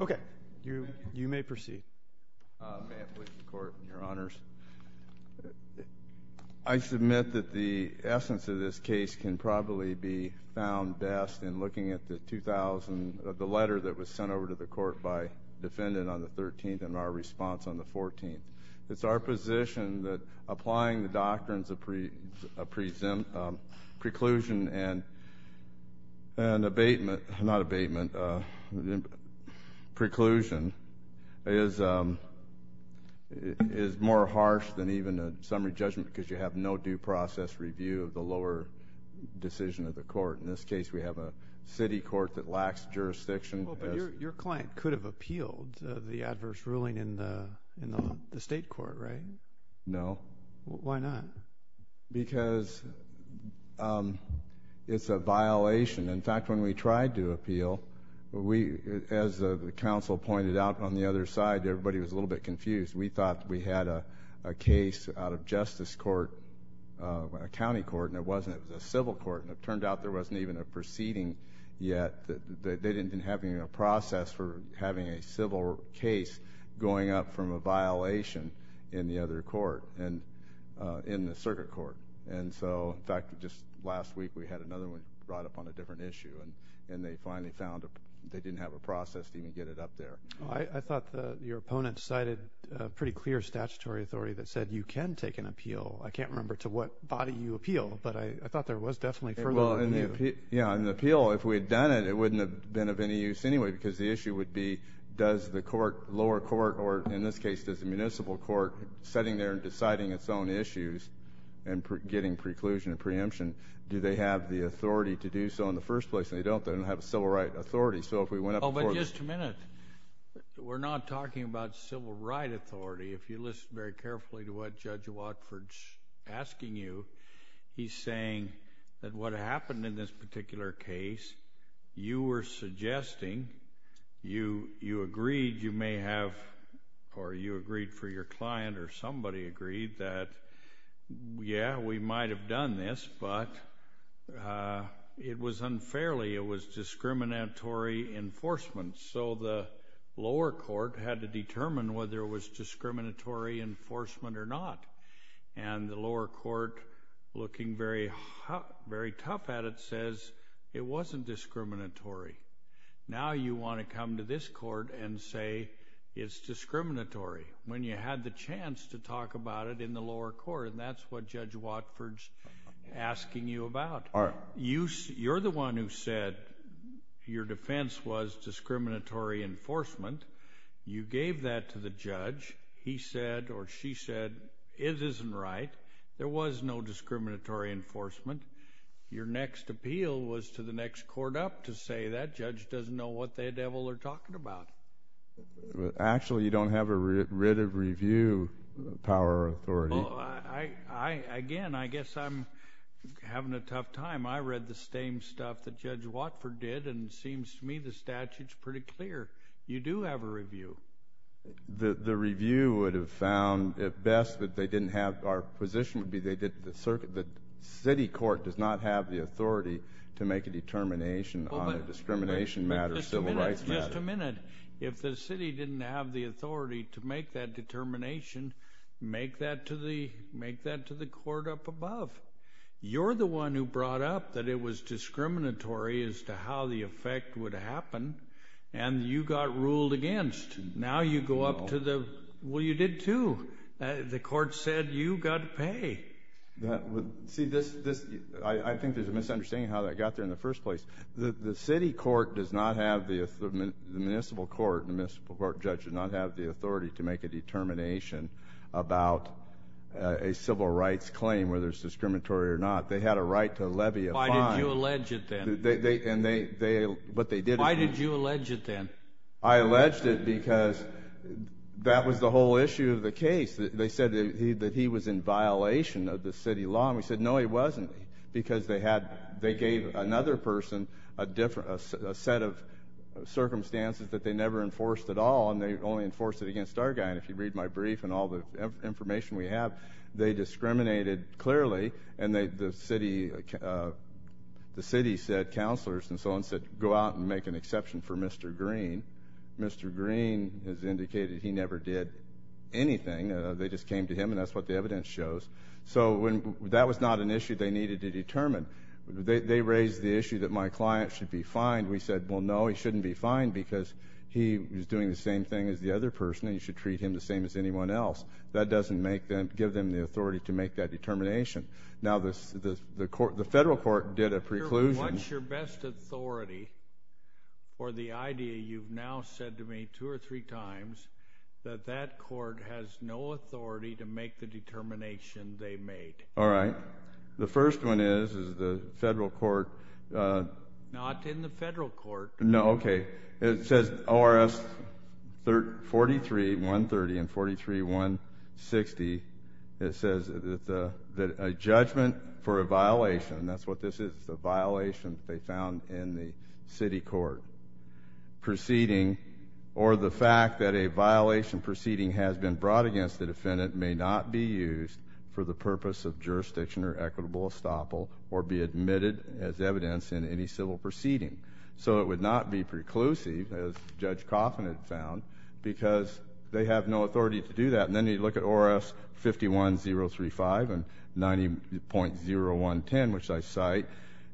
Okay. You may proceed. May it please the Court, Your Honors. I submit that the essence of this case can probably be found best in looking at the letter that was sent over to the Court by defendant on the 13th and our response on the 14th. It's our position that applying the doctrines of preclusion and abatement, not abatement, preclusion is more harsh than even a summary judgment because you have no due process review of the lower decision of the court. In this case, we have a city court that lacks jurisdiction. But your client could have appealed the adverse ruling in the state court, right? No. Why not? Because it's a violation. In fact, when we tried to appeal, as the counsel pointed out on the other side, everybody was a little bit confused. We thought we had a case out of justice court, a county court, and it wasn't. It was a civil court. And it turned out there wasn't even a proceeding yet. They didn't have a process for having a civil case going up from a violation in the other court, in the circuit court. And so, in fact, just last week we had another one brought up on a different issue. And they finally found they didn't have a process to even get it up there. I thought your opponent cited a pretty clear statutory authority that said you can take an appeal. I can't remember to what body you appeal, but I thought there was definitely further review. Yeah. In the appeal, if we had done it, it wouldn't have been of any use anyway because the issue would be does the lower court or, in this case, does the municipal court, sitting there and deciding its own issues and getting preclusion and preemption, do they have the authority to do so in the first place? And they don't. They don't have a civil right authority. Oh, but just a minute. We're not talking about civil right authority. If you listen very carefully to what Judge Watford's asking you, he's saying that what happened in this particular case, you were suggesting, you agreed you may have, or you agreed for your client or somebody agreed that, yeah, we might have done this, but it was unfairly, it was discriminatory enforcement, so the lower court had to determine whether it was discriminatory enforcement or not. And the lower court, looking very tough at it, says it wasn't discriminatory. Now you want to come to this court and say it's discriminatory when you had the chance to talk about it in the lower court, and that's what Judge Watford's asking you about. You're the one who said your defense was discriminatory enforcement. You gave that to the judge. He said or she said it isn't right. There was no discriminatory enforcement. Your next appeal was to the next court up to say that judge doesn't know what the devil they're talking about. Actually, you don't have a writ of review power or authority. Well, again, I guess I'm having a tough time. I read the same stuff that Judge Watford did, and it seems to me the statute's pretty clear. You do have a review. The review would have found at best that they didn't have, our position would be they did, the city court does not have the authority to make a determination on a discrimination matter, civil rights matter. Wait a minute. If the city didn't have the authority to make that determination, make that to the court up above. You're the one who brought up that it was discriminatory as to how the effect would happen, and you got ruled against. Now you go up to the, well, you did too. The court said you got to pay. See, I think there's a misunderstanding how that got there in the first place. The city court does not have the, the municipal court, the municipal court judge, does not have the authority to make a determination about a civil rights claim, whether it's discriminatory or not. They had a right to levy a fine. Why did you allege it then? And they, what they did. Why did you allege it then? I alleged it because that was the whole issue of the case. They said that he was in violation of the city law, and we said, no, he wasn't, because they had, they gave another person a different, a set of circumstances that they never enforced at all, and they only enforced it against our guy. And if you read my brief and all the information we have, they discriminated clearly. And the city said, counselors and so on said, go out and make an exception for Mr. Green. Mr. Green has indicated he never did anything. They just came to him, and that's what the evidence shows. So that was not an issue they needed to determine. They raised the issue that my client should be fined. We said, well, no, he shouldn't be fined because he was doing the same thing as the other person, and you should treat him the same as anyone else. That doesn't make them, give them the authority to make that determination. Now, the federal court did a preclusion. What's your best authority for the idea you've now said to me two or three times that that court has no authority to make the determination they made? All right. The first one is, is the federal court. Not in the federal court. No, okay. It says ORS 43-130 and 43-160. It says that a judgment for a violation, that's what this is, a violation they found in the city court proceeding, or the fact that a violation proceeding has been brought against the defendant may not be used for the purpose of jurisdiction or equitable estoppel or be admitted as evidence in any civil proceeding. So it would not be preclusive, as Judge Coffin had found, because they have no authority to do that. And then you look at ORS 51-035 and 90.0110, which I cite,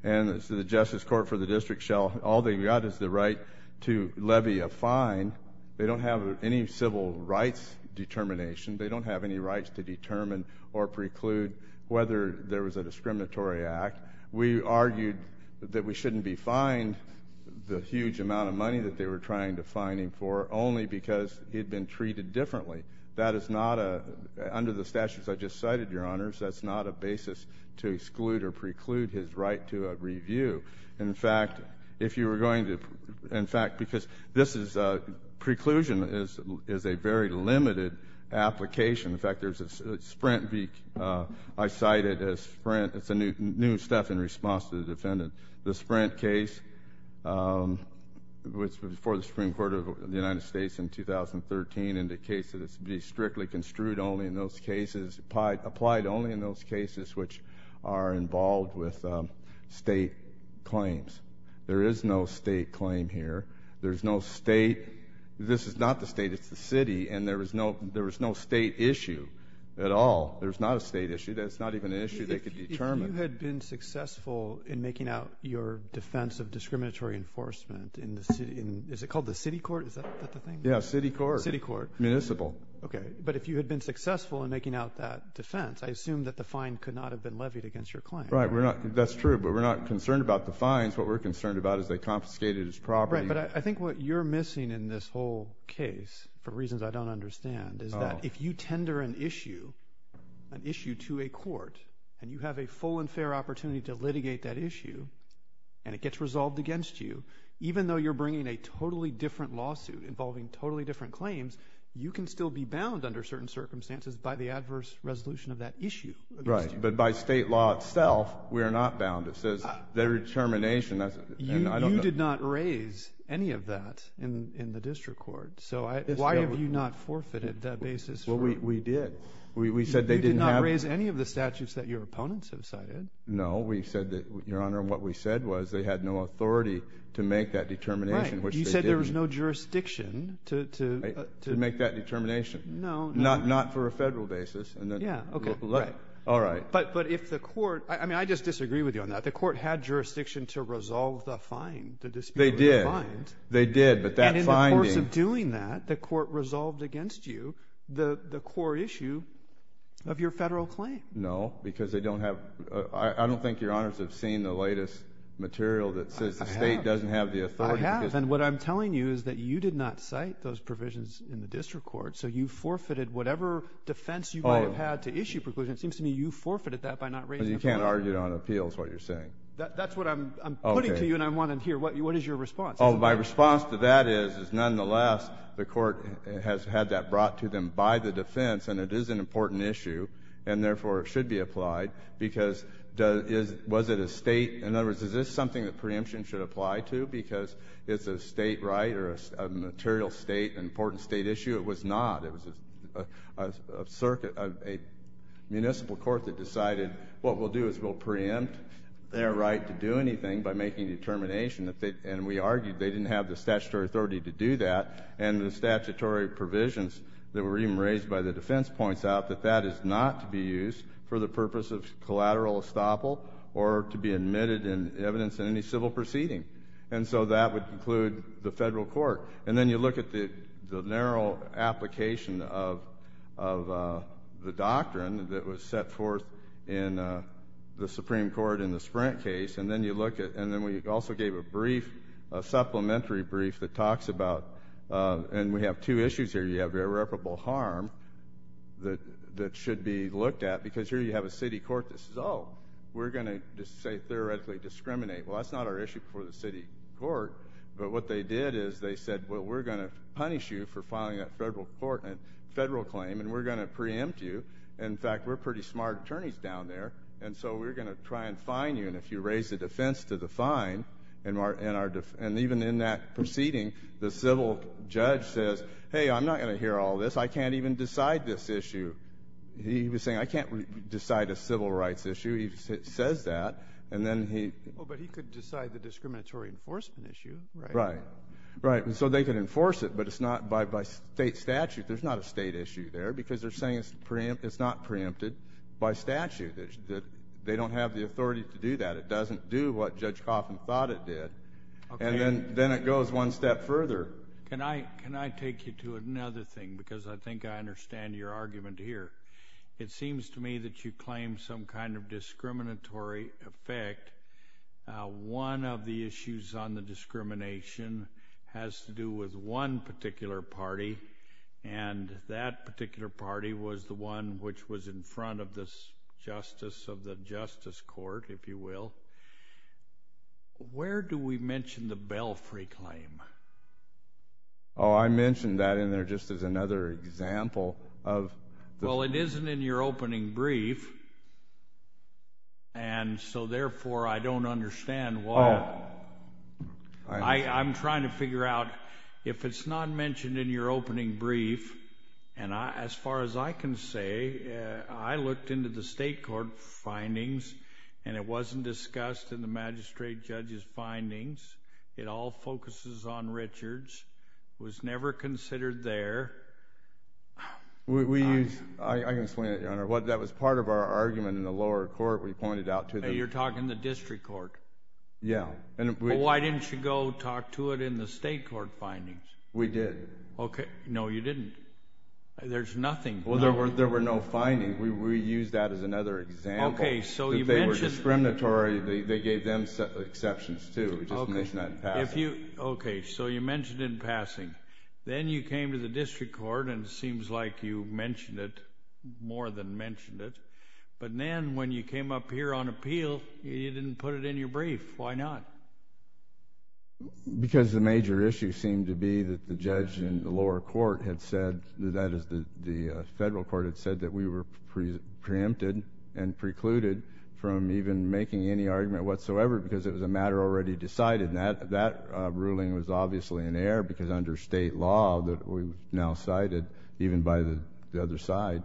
and the Justice Court for the District shall, all they've got is the right to levy a fine. They don't have any civil rights determination. They don't have any rights to determine or preclude whether there was a discriminatory act. We argued that we shouldn't be fined the huge amount of money that they were trying to fine him for only because he had been treated differently. That is not a – under the statutes I just cited, Your Honors, that's not a basis to exclude or preclude his right to a review. In fact, if you were going to – in fact, because this is a – preclusion is a very limited application. In fact, there's a Sprint v. – I cite it as Sprint. It's a new stuff in response to the defendant. The Sprint case, which was before the Supreme Court of the United States in 2013 indicates that it should be strictly construed only in those cases – applied only in those cases which are involved with state claims. There is no state claim here. There's no state – this is not the state, it's the city, and there is no state issue at all. There's not a state issue. That's not even an issue they could determine. If you had been successful in making out your defense of discriminatory enforcement in the city – is it called the city court? Is that the thing? Yeah, city court. City court. Municipal. Okay, but if you had been successful in making out that defense, I assume that the fine could not have been levied against your claim. Right, we're not – that's true, but we're not concerned about the fines. What we're concerned about is they confiscated his property. Right, but I think what you're missing in this whole case, for reasons I don't understand, is that if you tender an issue, an issue to a court, and you have a full and fair opportunity to litigate that issue, and it gets resolved against you, even though you're bringing a totally different lawsuit involving totally different claims, you can still be bound under certain circumstances by the adverse resolution of that issue. Right, but by state law itself, we are not bound. It says their determination – You did not raise any of that in the district court. So why have you not forfeited that basis for – Well, we did. We said they didn't have – You did not raise any of the statutes that your opponents have cited. No, we said that, Your Honor, what we said was they had no authority to make that determination, which they did. Right, you said there was no jurisdiction to – To make that determination. No, no. Not for a federal basis. Yeah, okay. All right. But if the court – I mean, I just disagree with you on that. The court had jurisdiction to resolve the fine, to dispute the fine. They did. They did, but that finding – And in the course of doing that, the court resolved against you the core issue of your federal claim. No, because they don't have – I don't think Your Honors have seen the latest material that says the State doesn't have the authority. I have, and what I'm telling you is that you did not cite those provisions in the district court. So you forfeited whatever defense you might have had to issue preclusions. It seems to me you forfeited that by not raising the claim. But you can't argue it on appeals, what you're saying. That's what I'm putting to you, and I want to hear what is your response. Oh, my response to that is, is nonetheless, the court has had that brought to them by the defense, and it is an important issue. And therefore, it should be applied, because was it a State – in other words, is this something that preemption should apply to because it's a State right or a material State, an important State issue? It was not. It was a circuit of a municipal court that decided what we'll do is we'll preempt their right to do anything by making determination. And we argued they didn't have the statutory authority to do that. And the statutory provisions that were even raised by the defense points out that that is not to be used for the purpose of collateral estoppel or to be admitted in evidence in any civil proceeding. And so that would include the federal court. And then you look at the narrow application of the doctrine that was set forth in the Supreme Court in the Sprint case, and then you look at – and then we also gave a brief, a supplementary brief that talks about – and we have two issues here. You have irreparable harm that should be looked at, because here you have a city court that says, oh, we're going to, say, theoretically discriminate. Well, that's not our issue before the city court. But what they did is they said, well, we're going to punish you for filing that federal claim, and we're going to preempt you. In fact, we're pretty smart attorneys down there, and so we're going to try and fine you. And if you raise the defense to the fine, and even in that proceeding, the civil judge says, hey, I'm not going to hear all this. I can't even decide this issue. He was saying, I can't decide a civil rights issue. He says that. And then he – Well, but he could decide the discriminatory enforcement issue, right? Right. Right. And so they could enforce it, but it's not – by state statute, there's not a state issue there, because they're saying it's not preempted by statute. They don't have the authority to do that. It doesn't do what Judge Coffman thought it did. And then it goes one step further. Can I take you to another thing, because I think I understand your argument here. It seems to me that you claim some kind of discriminatory effect. One of the issues on the discrimination has to do with one particular party, and that particular party was the one which was in front of the justice of the justice court, if you will. Where do we mention the Belfry claim? Oh, I mentioned that in there just as another example of – Well, it isn't in your opening brief, and so therefore I don't understand why – Oh, I understand. I'm trying to figure out if it's not mentioned in your opening brief, and as far as I can say, I looked into the state court findings, and it wasn't discussed in the magistrate judge's findings. It all focuses on Richards. It was never considered there. We use – I can explain it, Your Honor. That was part of our argument in the lower court. We pointed out to the – You're talking the district court. Yeah. Well, why didn't you go talk to it in the state court findings? We did. Okay. No, you didn't. There's nothing. Well, there were no findings. We used that as another example. Okay, so you mentioned – If they were discriminatory, they gave them exceptions, too. We just mentioned that in passing. Okay, so you mentioned it in passing. Then you came to the district court, and it seems like you mentioned it, more than mentioned it. But then when you came up here on appeal, you didn't put it in your brief. Why not? Because the major issue seemed to be that the judge in the lower court had said, that is, the federal court had said that we were preempted and precluded from even making any argument whatsoever because it was a matter already decided. That ruling was obviously in error because under state law that we now cited, even by the other side,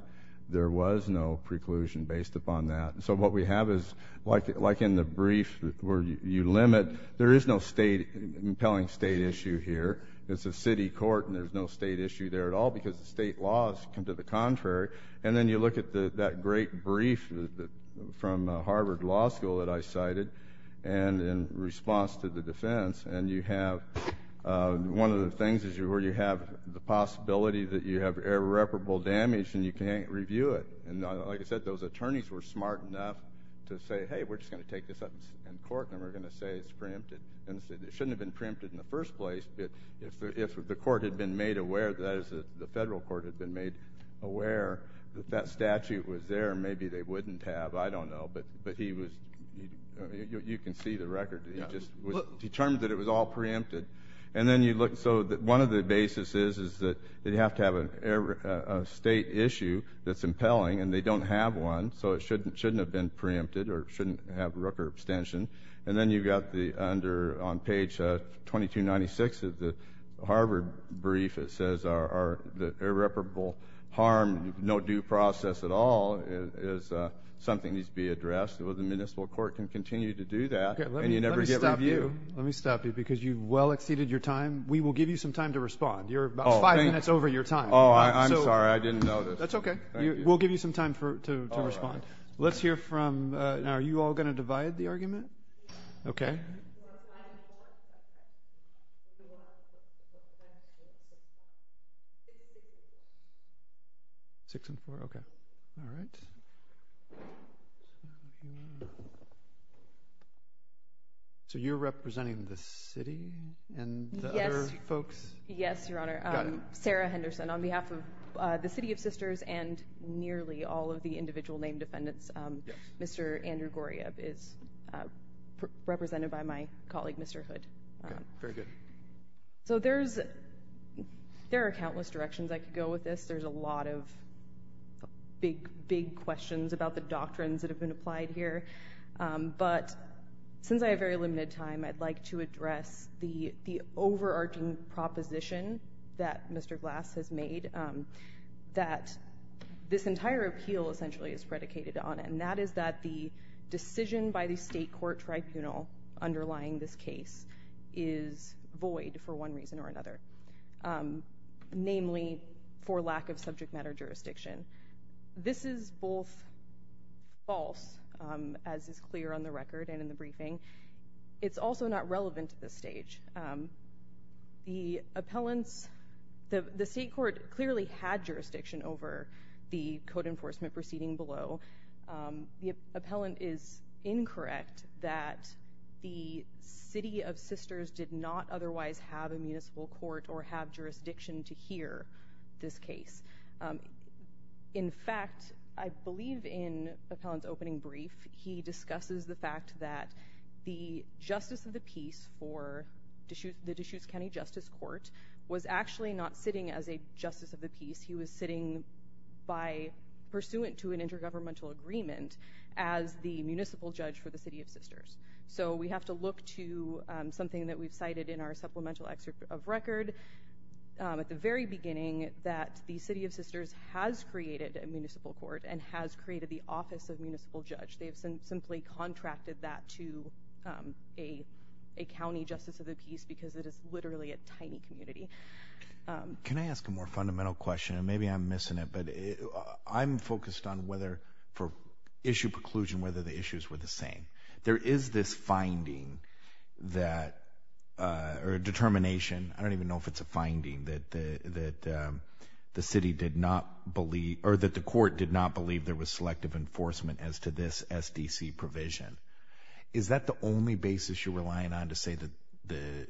there was no preclusion based upon that. So what we have is, like in the brief where you limit, there is no compelling state issue here. It's a city court, and there's no state issue there at all because the state laws come to the contrary. And then you look at that great brief from Harvard Law School that I cited, and in response to the defense, and you have one of the things where you have the possibility that you have irreparable damage, and you can't review it. And like I said, those attorneys were smart enough to say, hey, we're just going to take this up in court, and we're going to say it's preempted. It shouldn't have been preempted in the first place, but if the court had been made aware, that is, the federal court had been made aware, that that statute was there, maybe they wouldn't have, I don't know. But you can see the record. It just was determined that it was all preempted. And then you look. So one of the bases is that you have to have a state issue that's impelling, and they don't have one, so it shouldn't have been preempted or shouldn't have Rooker abstention. And then you've got under on page 2296 of the Harvard brief, it says the irreparable harm, no due process at all, is something that needs to be addressed. The municipal court can continue to do that, and you never get review. Let me stop you, because you've well exceeded your time. We will give you some time to respond. You're about five minutes over your time. Oh, I'm sorry. I didn't notice. That's okay. We'll give you some time to respond. Let's hear from now. Are you all going to divide the argument? Okay. You are five and four. Okay. You are six and four. Okay. Six and four. Six and four. Okay. All right. So you're representing the city and the other folks? Yes, Your Honor. Sarah Henderson, on behalf of the City of Sisters and nearly all of the individual named defendants, Mr. Andrew Goriab is represented by my colleague, Mr. Hood. Very good. So there are countless directions I could go with this. There's a lot of big, big questions about the doctrines that have been applied here. But since I have very limited time, I'd like to address the overarching proposition that Mr. Glass has made, that this entire appeal essentially is predicated on it, and that is that the decision by the state court tribunal underlying this case is void for one reason or another, namely for lack of subject matter jurisdiction. This is both false, as is clear on the record and in the briefing. It's also not relevant to this stage. The appellant's—the state court clearly had jurisdiction over the code enforcement proceeding below. The appellant is incorrect that the City of Sisters did not otherwise have a municipal court or have jurisdiction to hear this case. In fact, I believe in the appellant's opening brief, he discusses the fact that the justice of the peace for the Deschutes County Justice Court was actually not sitting as a justice of the peace. He was sitting by—pursuant to an intergovernmental agreement as the municipal judge for the City of Sisters. So we have to look to something that we've cited in our supplemental excerpt of record at the very beginning, that the City of Sisters has created a municipal court and has created the office of municipal judge. They've simply contracted that to a county justice of the peace because it is literally a tiny community. Can I ask a more fundamental question? Maybe I'm missing it, but I'm focused on whether for issue preclusion, whether the issues were the same. There is this finding that—or determination. I don't even know if it's a finding that the city did not believe— Is that the only basis you're relying on to say that the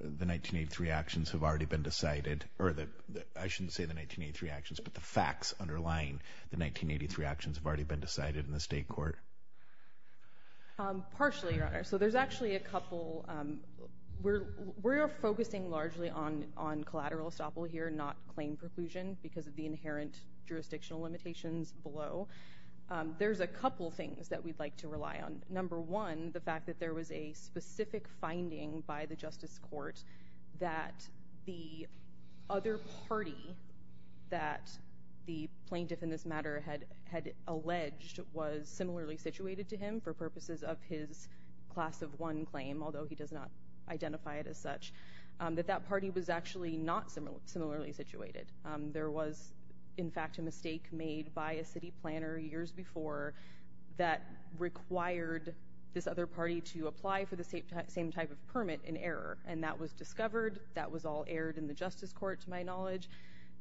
1983 actions have already been decided? Or that—I shouldn't say the 1983 actions, but the facts underlying the 1983 actions have already been decided in the state court? Partially, Your Honor. So there's actually a couple. We are focusing largely on collateral estoppel here, not claim preclusion, because of the inherent jurisdictional limitations below. There's a couple things that we'd like to rely on. Number one, the fact that there was a specific finding by the justice court that the other party that the plaintiff in this matter had alleged was similarly situated to him for purposes of his class of one claim, although he does not identify it as such, that that party was actually not similarly situated. There was, in fact, a mistake made by a city planner years before that required this other party to apply for the same type of permit in error, and that was discovered. That was all aired in the justice court, to my knowledge.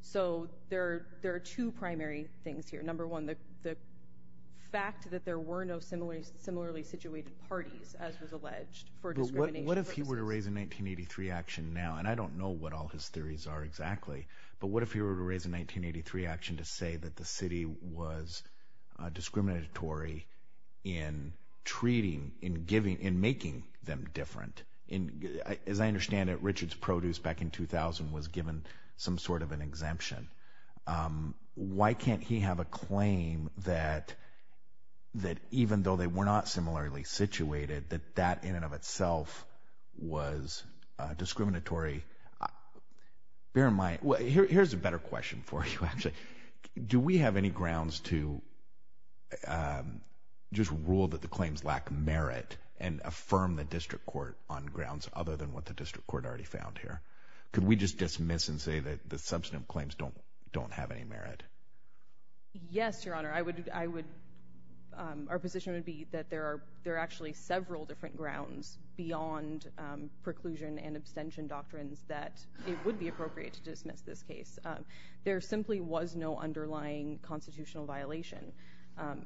So there are two primary things here. Number one, the fact that there were no similarly situated parties, as was alleged, for discrimination purposes. But what if he were to raise a 1983 action now? And I don't know what all his theories are exactly, but what if he were to raise a 1983 action to say that the city was discriminatory in treating, in giving, in making them different? As I understand it, Richard's Produce back in 2000 was given some sort of an exemption. Why can't he have a claim that even though they were not similarly situated, that that in and of itself was discriminatory? Bear in mind, here's a better question for you, actually. Do we have any grounds to just rule that the claims lack merit and affirm the district court on grounds other than what the district court already found here? Could we just dismiss and say that the substantive claims don't have any merit? Yes, Your Honor. Our position would be that there are actually several different grounds beyond preclusion and abstention doctrines that it would be appropriate to dismiss this case. There simply was no underlying constitutional violation.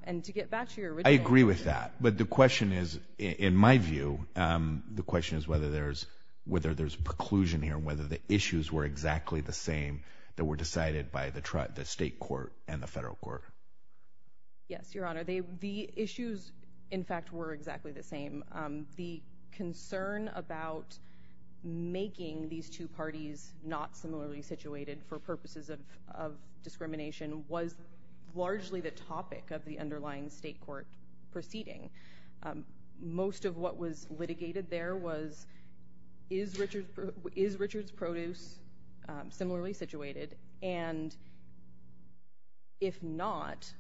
And to get back to your original question. I agree with that. But the question is, in my view, the question is whether there's preclusion here, whether the issues were exactly the same that were decided by the state court and the federal court. Yes, Your Honor. The issues, in fact, were exactly the same. The concern about making these two parties not similarly situated for purposes of discrimination was largely the topic of the underlying state court proceeding. Most of what was litigated there was, is Richard's produce similarly situated? And if not,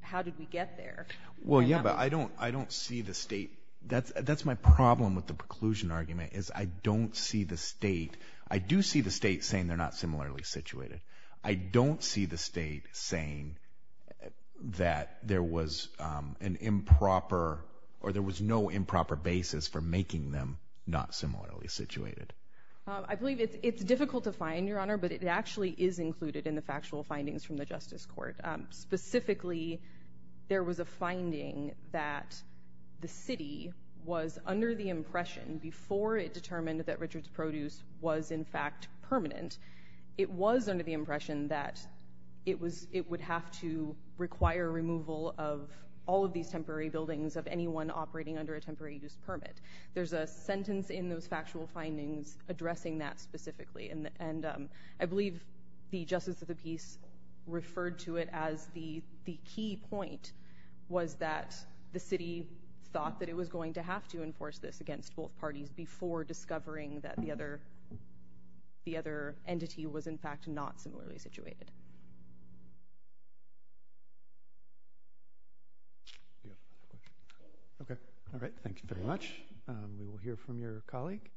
how did we get there? Well, yeah, but I don't see the state. That's my problem with the preclusion argument, is I don't see the state. I do see the state saying they're not similarly situated. I don't see the state saying that there was an improper, or there was no improper basis for making them not similarly situated. I believe it's difficult to find, Your Honor, but it actually is included in the factual findings from the justice court. Specifically, there was a finding that the city was under the impression, before it determined that Richard's produce was in fact permanent, it was under the impression that it would have to require removal of all of these temporary buildings, of anyone operating under a temporary use permit. There's a sentence in those factual findings addressing that specifically, and I believe the justice of the peace referred to it as the key point was that the city thought that it was going to have to enforce this against both parties before discovering that the other entity was in fact not similarly situated. Okay, all right, thank you very much. We will hear from your colleague.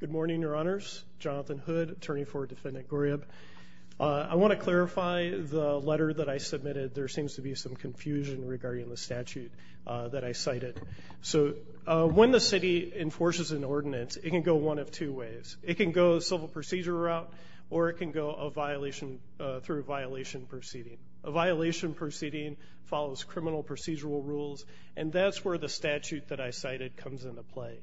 Good morning, Your Honors. Jonathan Hood, attorney for Defendant Gorib. I want to clarify the letter that I submitted. There seems to be some confusion regarding the statute that I cited. So when the city enforces an ordinance, it can go one of two ways. It can go a civil procedure route, or it can go through a violation proceeding. A violation proceeding follows criminal procedural rules, and that's where the statute that I cited comes into play.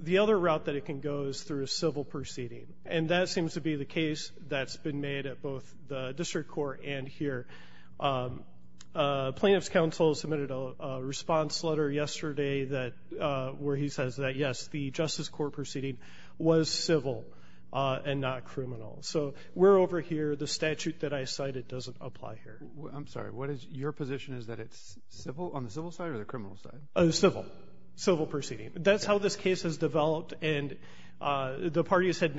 The other route that it can go is through a civil proceeding, and that seems to be the case that's been made at both the district court and here. Plaintiff's counsel submitted a response letter yesterday where he says that, yes, the Justice Court proceeding was civil and not criminal. So we're over here. The statute that I cited doesn't apply here. I'm sorry. Your position is that it's on the civil side or the criminal side? Civil, civil proceeding. That's how this case has developed, and the parties have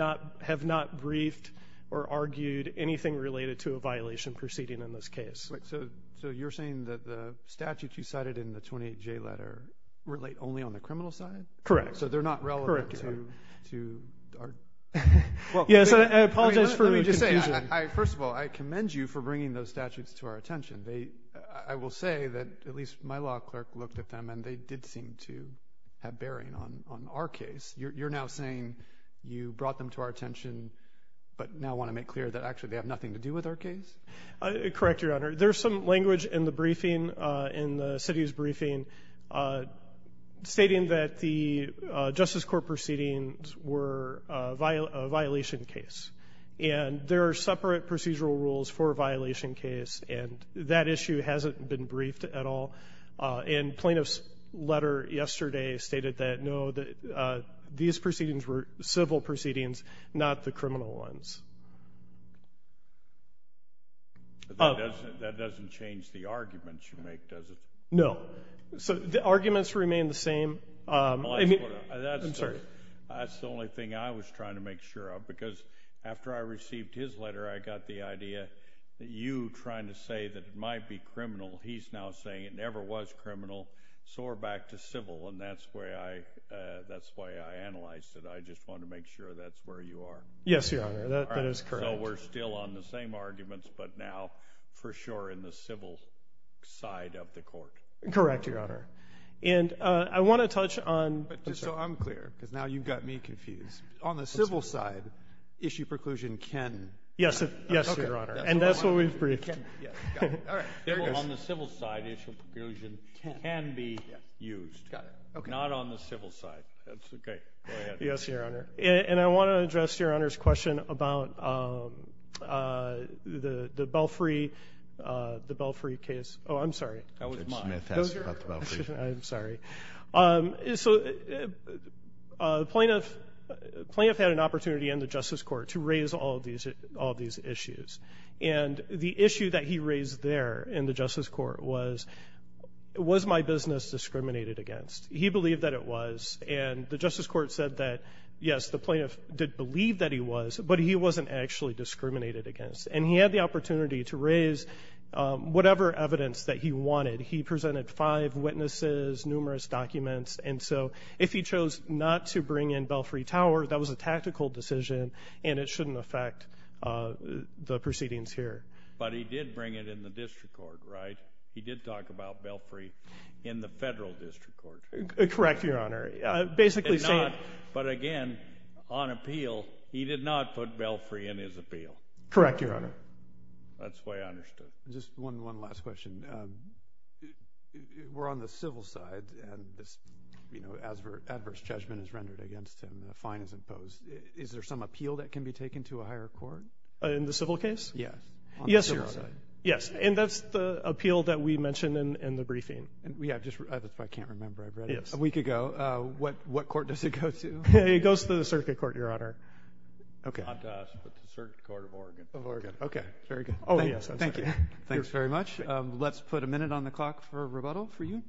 not briefed or argued anything related to a violation proceeding in this case. So you're saying that the statutes you cited in the 28J letter relate only on the criminal side? Correct. So they're not relevant to our? Yes, I apologize for your confusion. Let me just say, first of all, I commend you for bringing those statutes to our attention. I will say that at least my law clerk looked at them, and they did seem to have bearing on our case. You're now saying you brought them to our attention but now want to make clear that actually they have nothing to do with our case? Correct, Your Honor. There's some language in the briefing, in the city's briefing, stating that the Justice Court proceedings were a violation case, and there are separate procedural rules for a violation case, and that issue hasn't been briefed at all. And plaintiff's letter yesterday stated that, no, these proceedings were civil proceedings, not the criminal ones. That doesn't change the arguments you make, does it? No. So the arguments remain the same. That's the only thing I was trying to make sure of, because after I received his letter, I got the idea that you trying to say that it might be criminal, he's now saying it never was criminal, so we're back to civil, and that's the way I analyzed it. I just wanted to make sure that's where you are. Yes, Your Honor, that is correct. So we're still on the same arguments, but now for sure in the civil side of the court. Correct, Your Honor. And I want to touch on— Just so I'm clear, because now you've got me confused. On the civil side, issue preclusion can— Yes, Your Honor, and that's what we've briefed. On the civil side, issue preclusion can be used. Not on the civil side. That's okay. Yes, Your Honor. And I want to address Your Honor's question about the Belfry case. Oh, I'm sorry. That was mine. I'm sorry. So the plaintiff had an opportunity in the Justice Court to raise all these issues, and the issue that he raised there in the Justice Court was, was my business discriminated against? He believed that it was, and the Justice Court said that, yes, the plaintiff did believe that he was, but he wasn't actually discriminated against. And he had the opportunity to raise whatever evidence that he wanted. He presented five witnesses, numerous documents, and so if he chose not to bring in Belfry Tower, that was a tactical decision, and it shouldn't affect the proceedings here. But he did bring it in the district court, right? He did talk about Belfry in the federal district court. Correct, Your Honor. But again, on appeal, he did not put Belfry in his appeal. Correct, Your Honor. That's why I understood. Just one last question. We're on the civil side, and this adverse judgment is rendered against him, a fine is imposed. Is there some appeal that can be taken to a higher court? In the civil case? Yes. Yes, Your Honor. Yes, and that's the appeal that we mentioned in the briefing. If I can't remember, I've read it. Yes. A week ago. What court does it go to? It goes to the circuit court, Your Honor. Okay. Not to us, but to the Circuit Court of Oregon. Of Oregon. Okay, very good. Oh, yes, I'm sorry. Thank you. Thanks very much. Let's put a minute on the clock for rebuttal for you.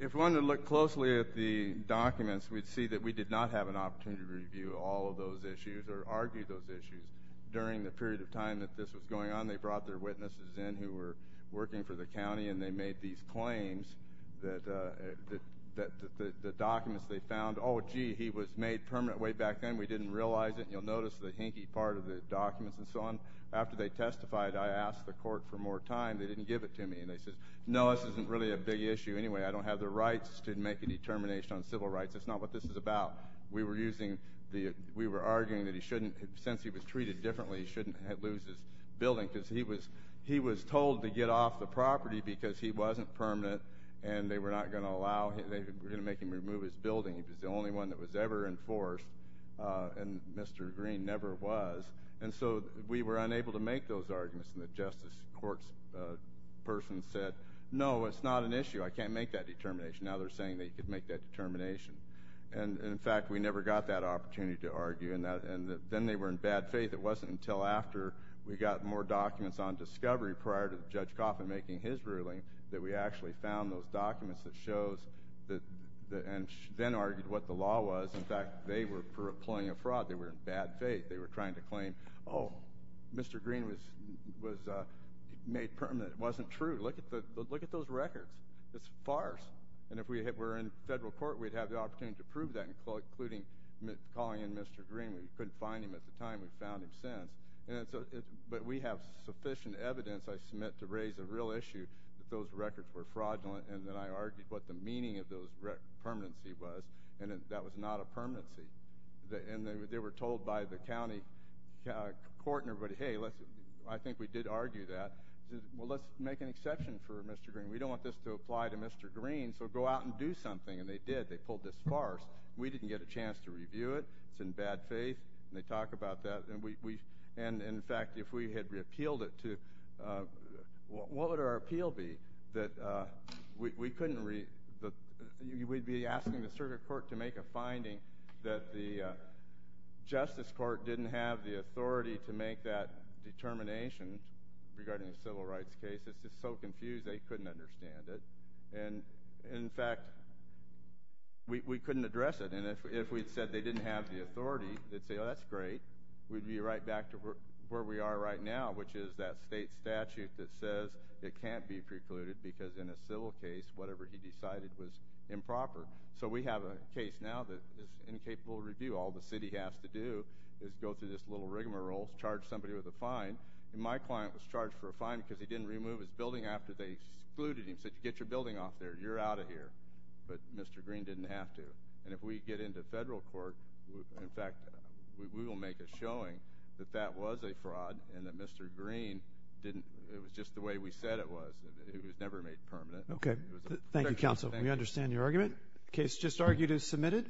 If we wanted to look closely at the documents, we'd see that we did not have an opportunity to review all of those issues or argue those issues during the period of time that this was going on. They brought their witnesses in who were working for the county, and they made these claims that the documents they found, oh, gee, he was made permanent way back then. We didn't realize it. You'll notice the hinky part of the documents and so on. After they testified, I asked the court for more time. They didn't give it to me, and they said, no, this isn't really a big issue anyway. I don't have the rights to make a determination on civil rights. That's not what this is about. We were arguing that he shouldn't, since he was treated differently, he shouldn't lose his building because he was told to get off the property because he wasn't permanent, and they were not going to allow him. They were going to make him remove his building. He was the only one that was ever enforced, and Mr. Green never was. And so we were unable to make those arguments, and the justice court's person said, no, it's not an issue. I can't make that determination. Now they're saying that he could make that determination. And, in fact, we never got that opportunity to argue, and then they were in bad faith. It wasn't until after we got more documents on discovery prior to Judge Coffin making his ruling that we actually found those documents that shows, and then argued what the law was. In fact, they were employing a fraud. They were in bad faith. They were trying to claim, oh, Mr. Green was made permanent. It wasn't true. Look at those records. It's farce. And if we were in federal court, we'd have the opportunity to prove that, including calling in Mr. Green. We couldn't find him at the time. We've found him since. But we have sufficient evidence, I submit, to raise a real issue that those records were fraudulent, and that I argued what the meaning of those records, permanency was, and that that was not a permanency. And they were told by the county court and everybody, hey, I think we did argue that. Well, let's make an exception for Mr. Green. We don't want this to apply to Mr. Green, so go out and do something, and they did. They pulled this farce. We didn't get a chance to review it. It's in bad faith, and they talk about that. And, in fact, if we had repealed it, what would our appeal be? We'd be asking the circuit court to make a finding that the justice court didn't have the authority to make that determination regarding a civil rights case. It's just so confused they couldn't understand it. And, in fact, we couldn't address it. And if we'd said they didn't have the authority, they'd say, oh, that's great. We'd be right back to where we are right now, which is that state statute that says it can't be precluded because in a civil case, whatever he decided was improper. So we have a case now that is incapable of review. All the city has to do is go through this little rigmarole, charge somebody with a fine. And my client was charged for a fine because he didn't remove his building after they excluded him. Said, get your building off there. You're out of here. But Mr. Green didn't have to. And if we get into federal court, in fact, we will make a showing that that was a fraud and that Mr. Green didn't. It was just the way we said it was. It was never made permanent. Okay. Thank you, counsel. We understand your argument. The case just argued is submitted.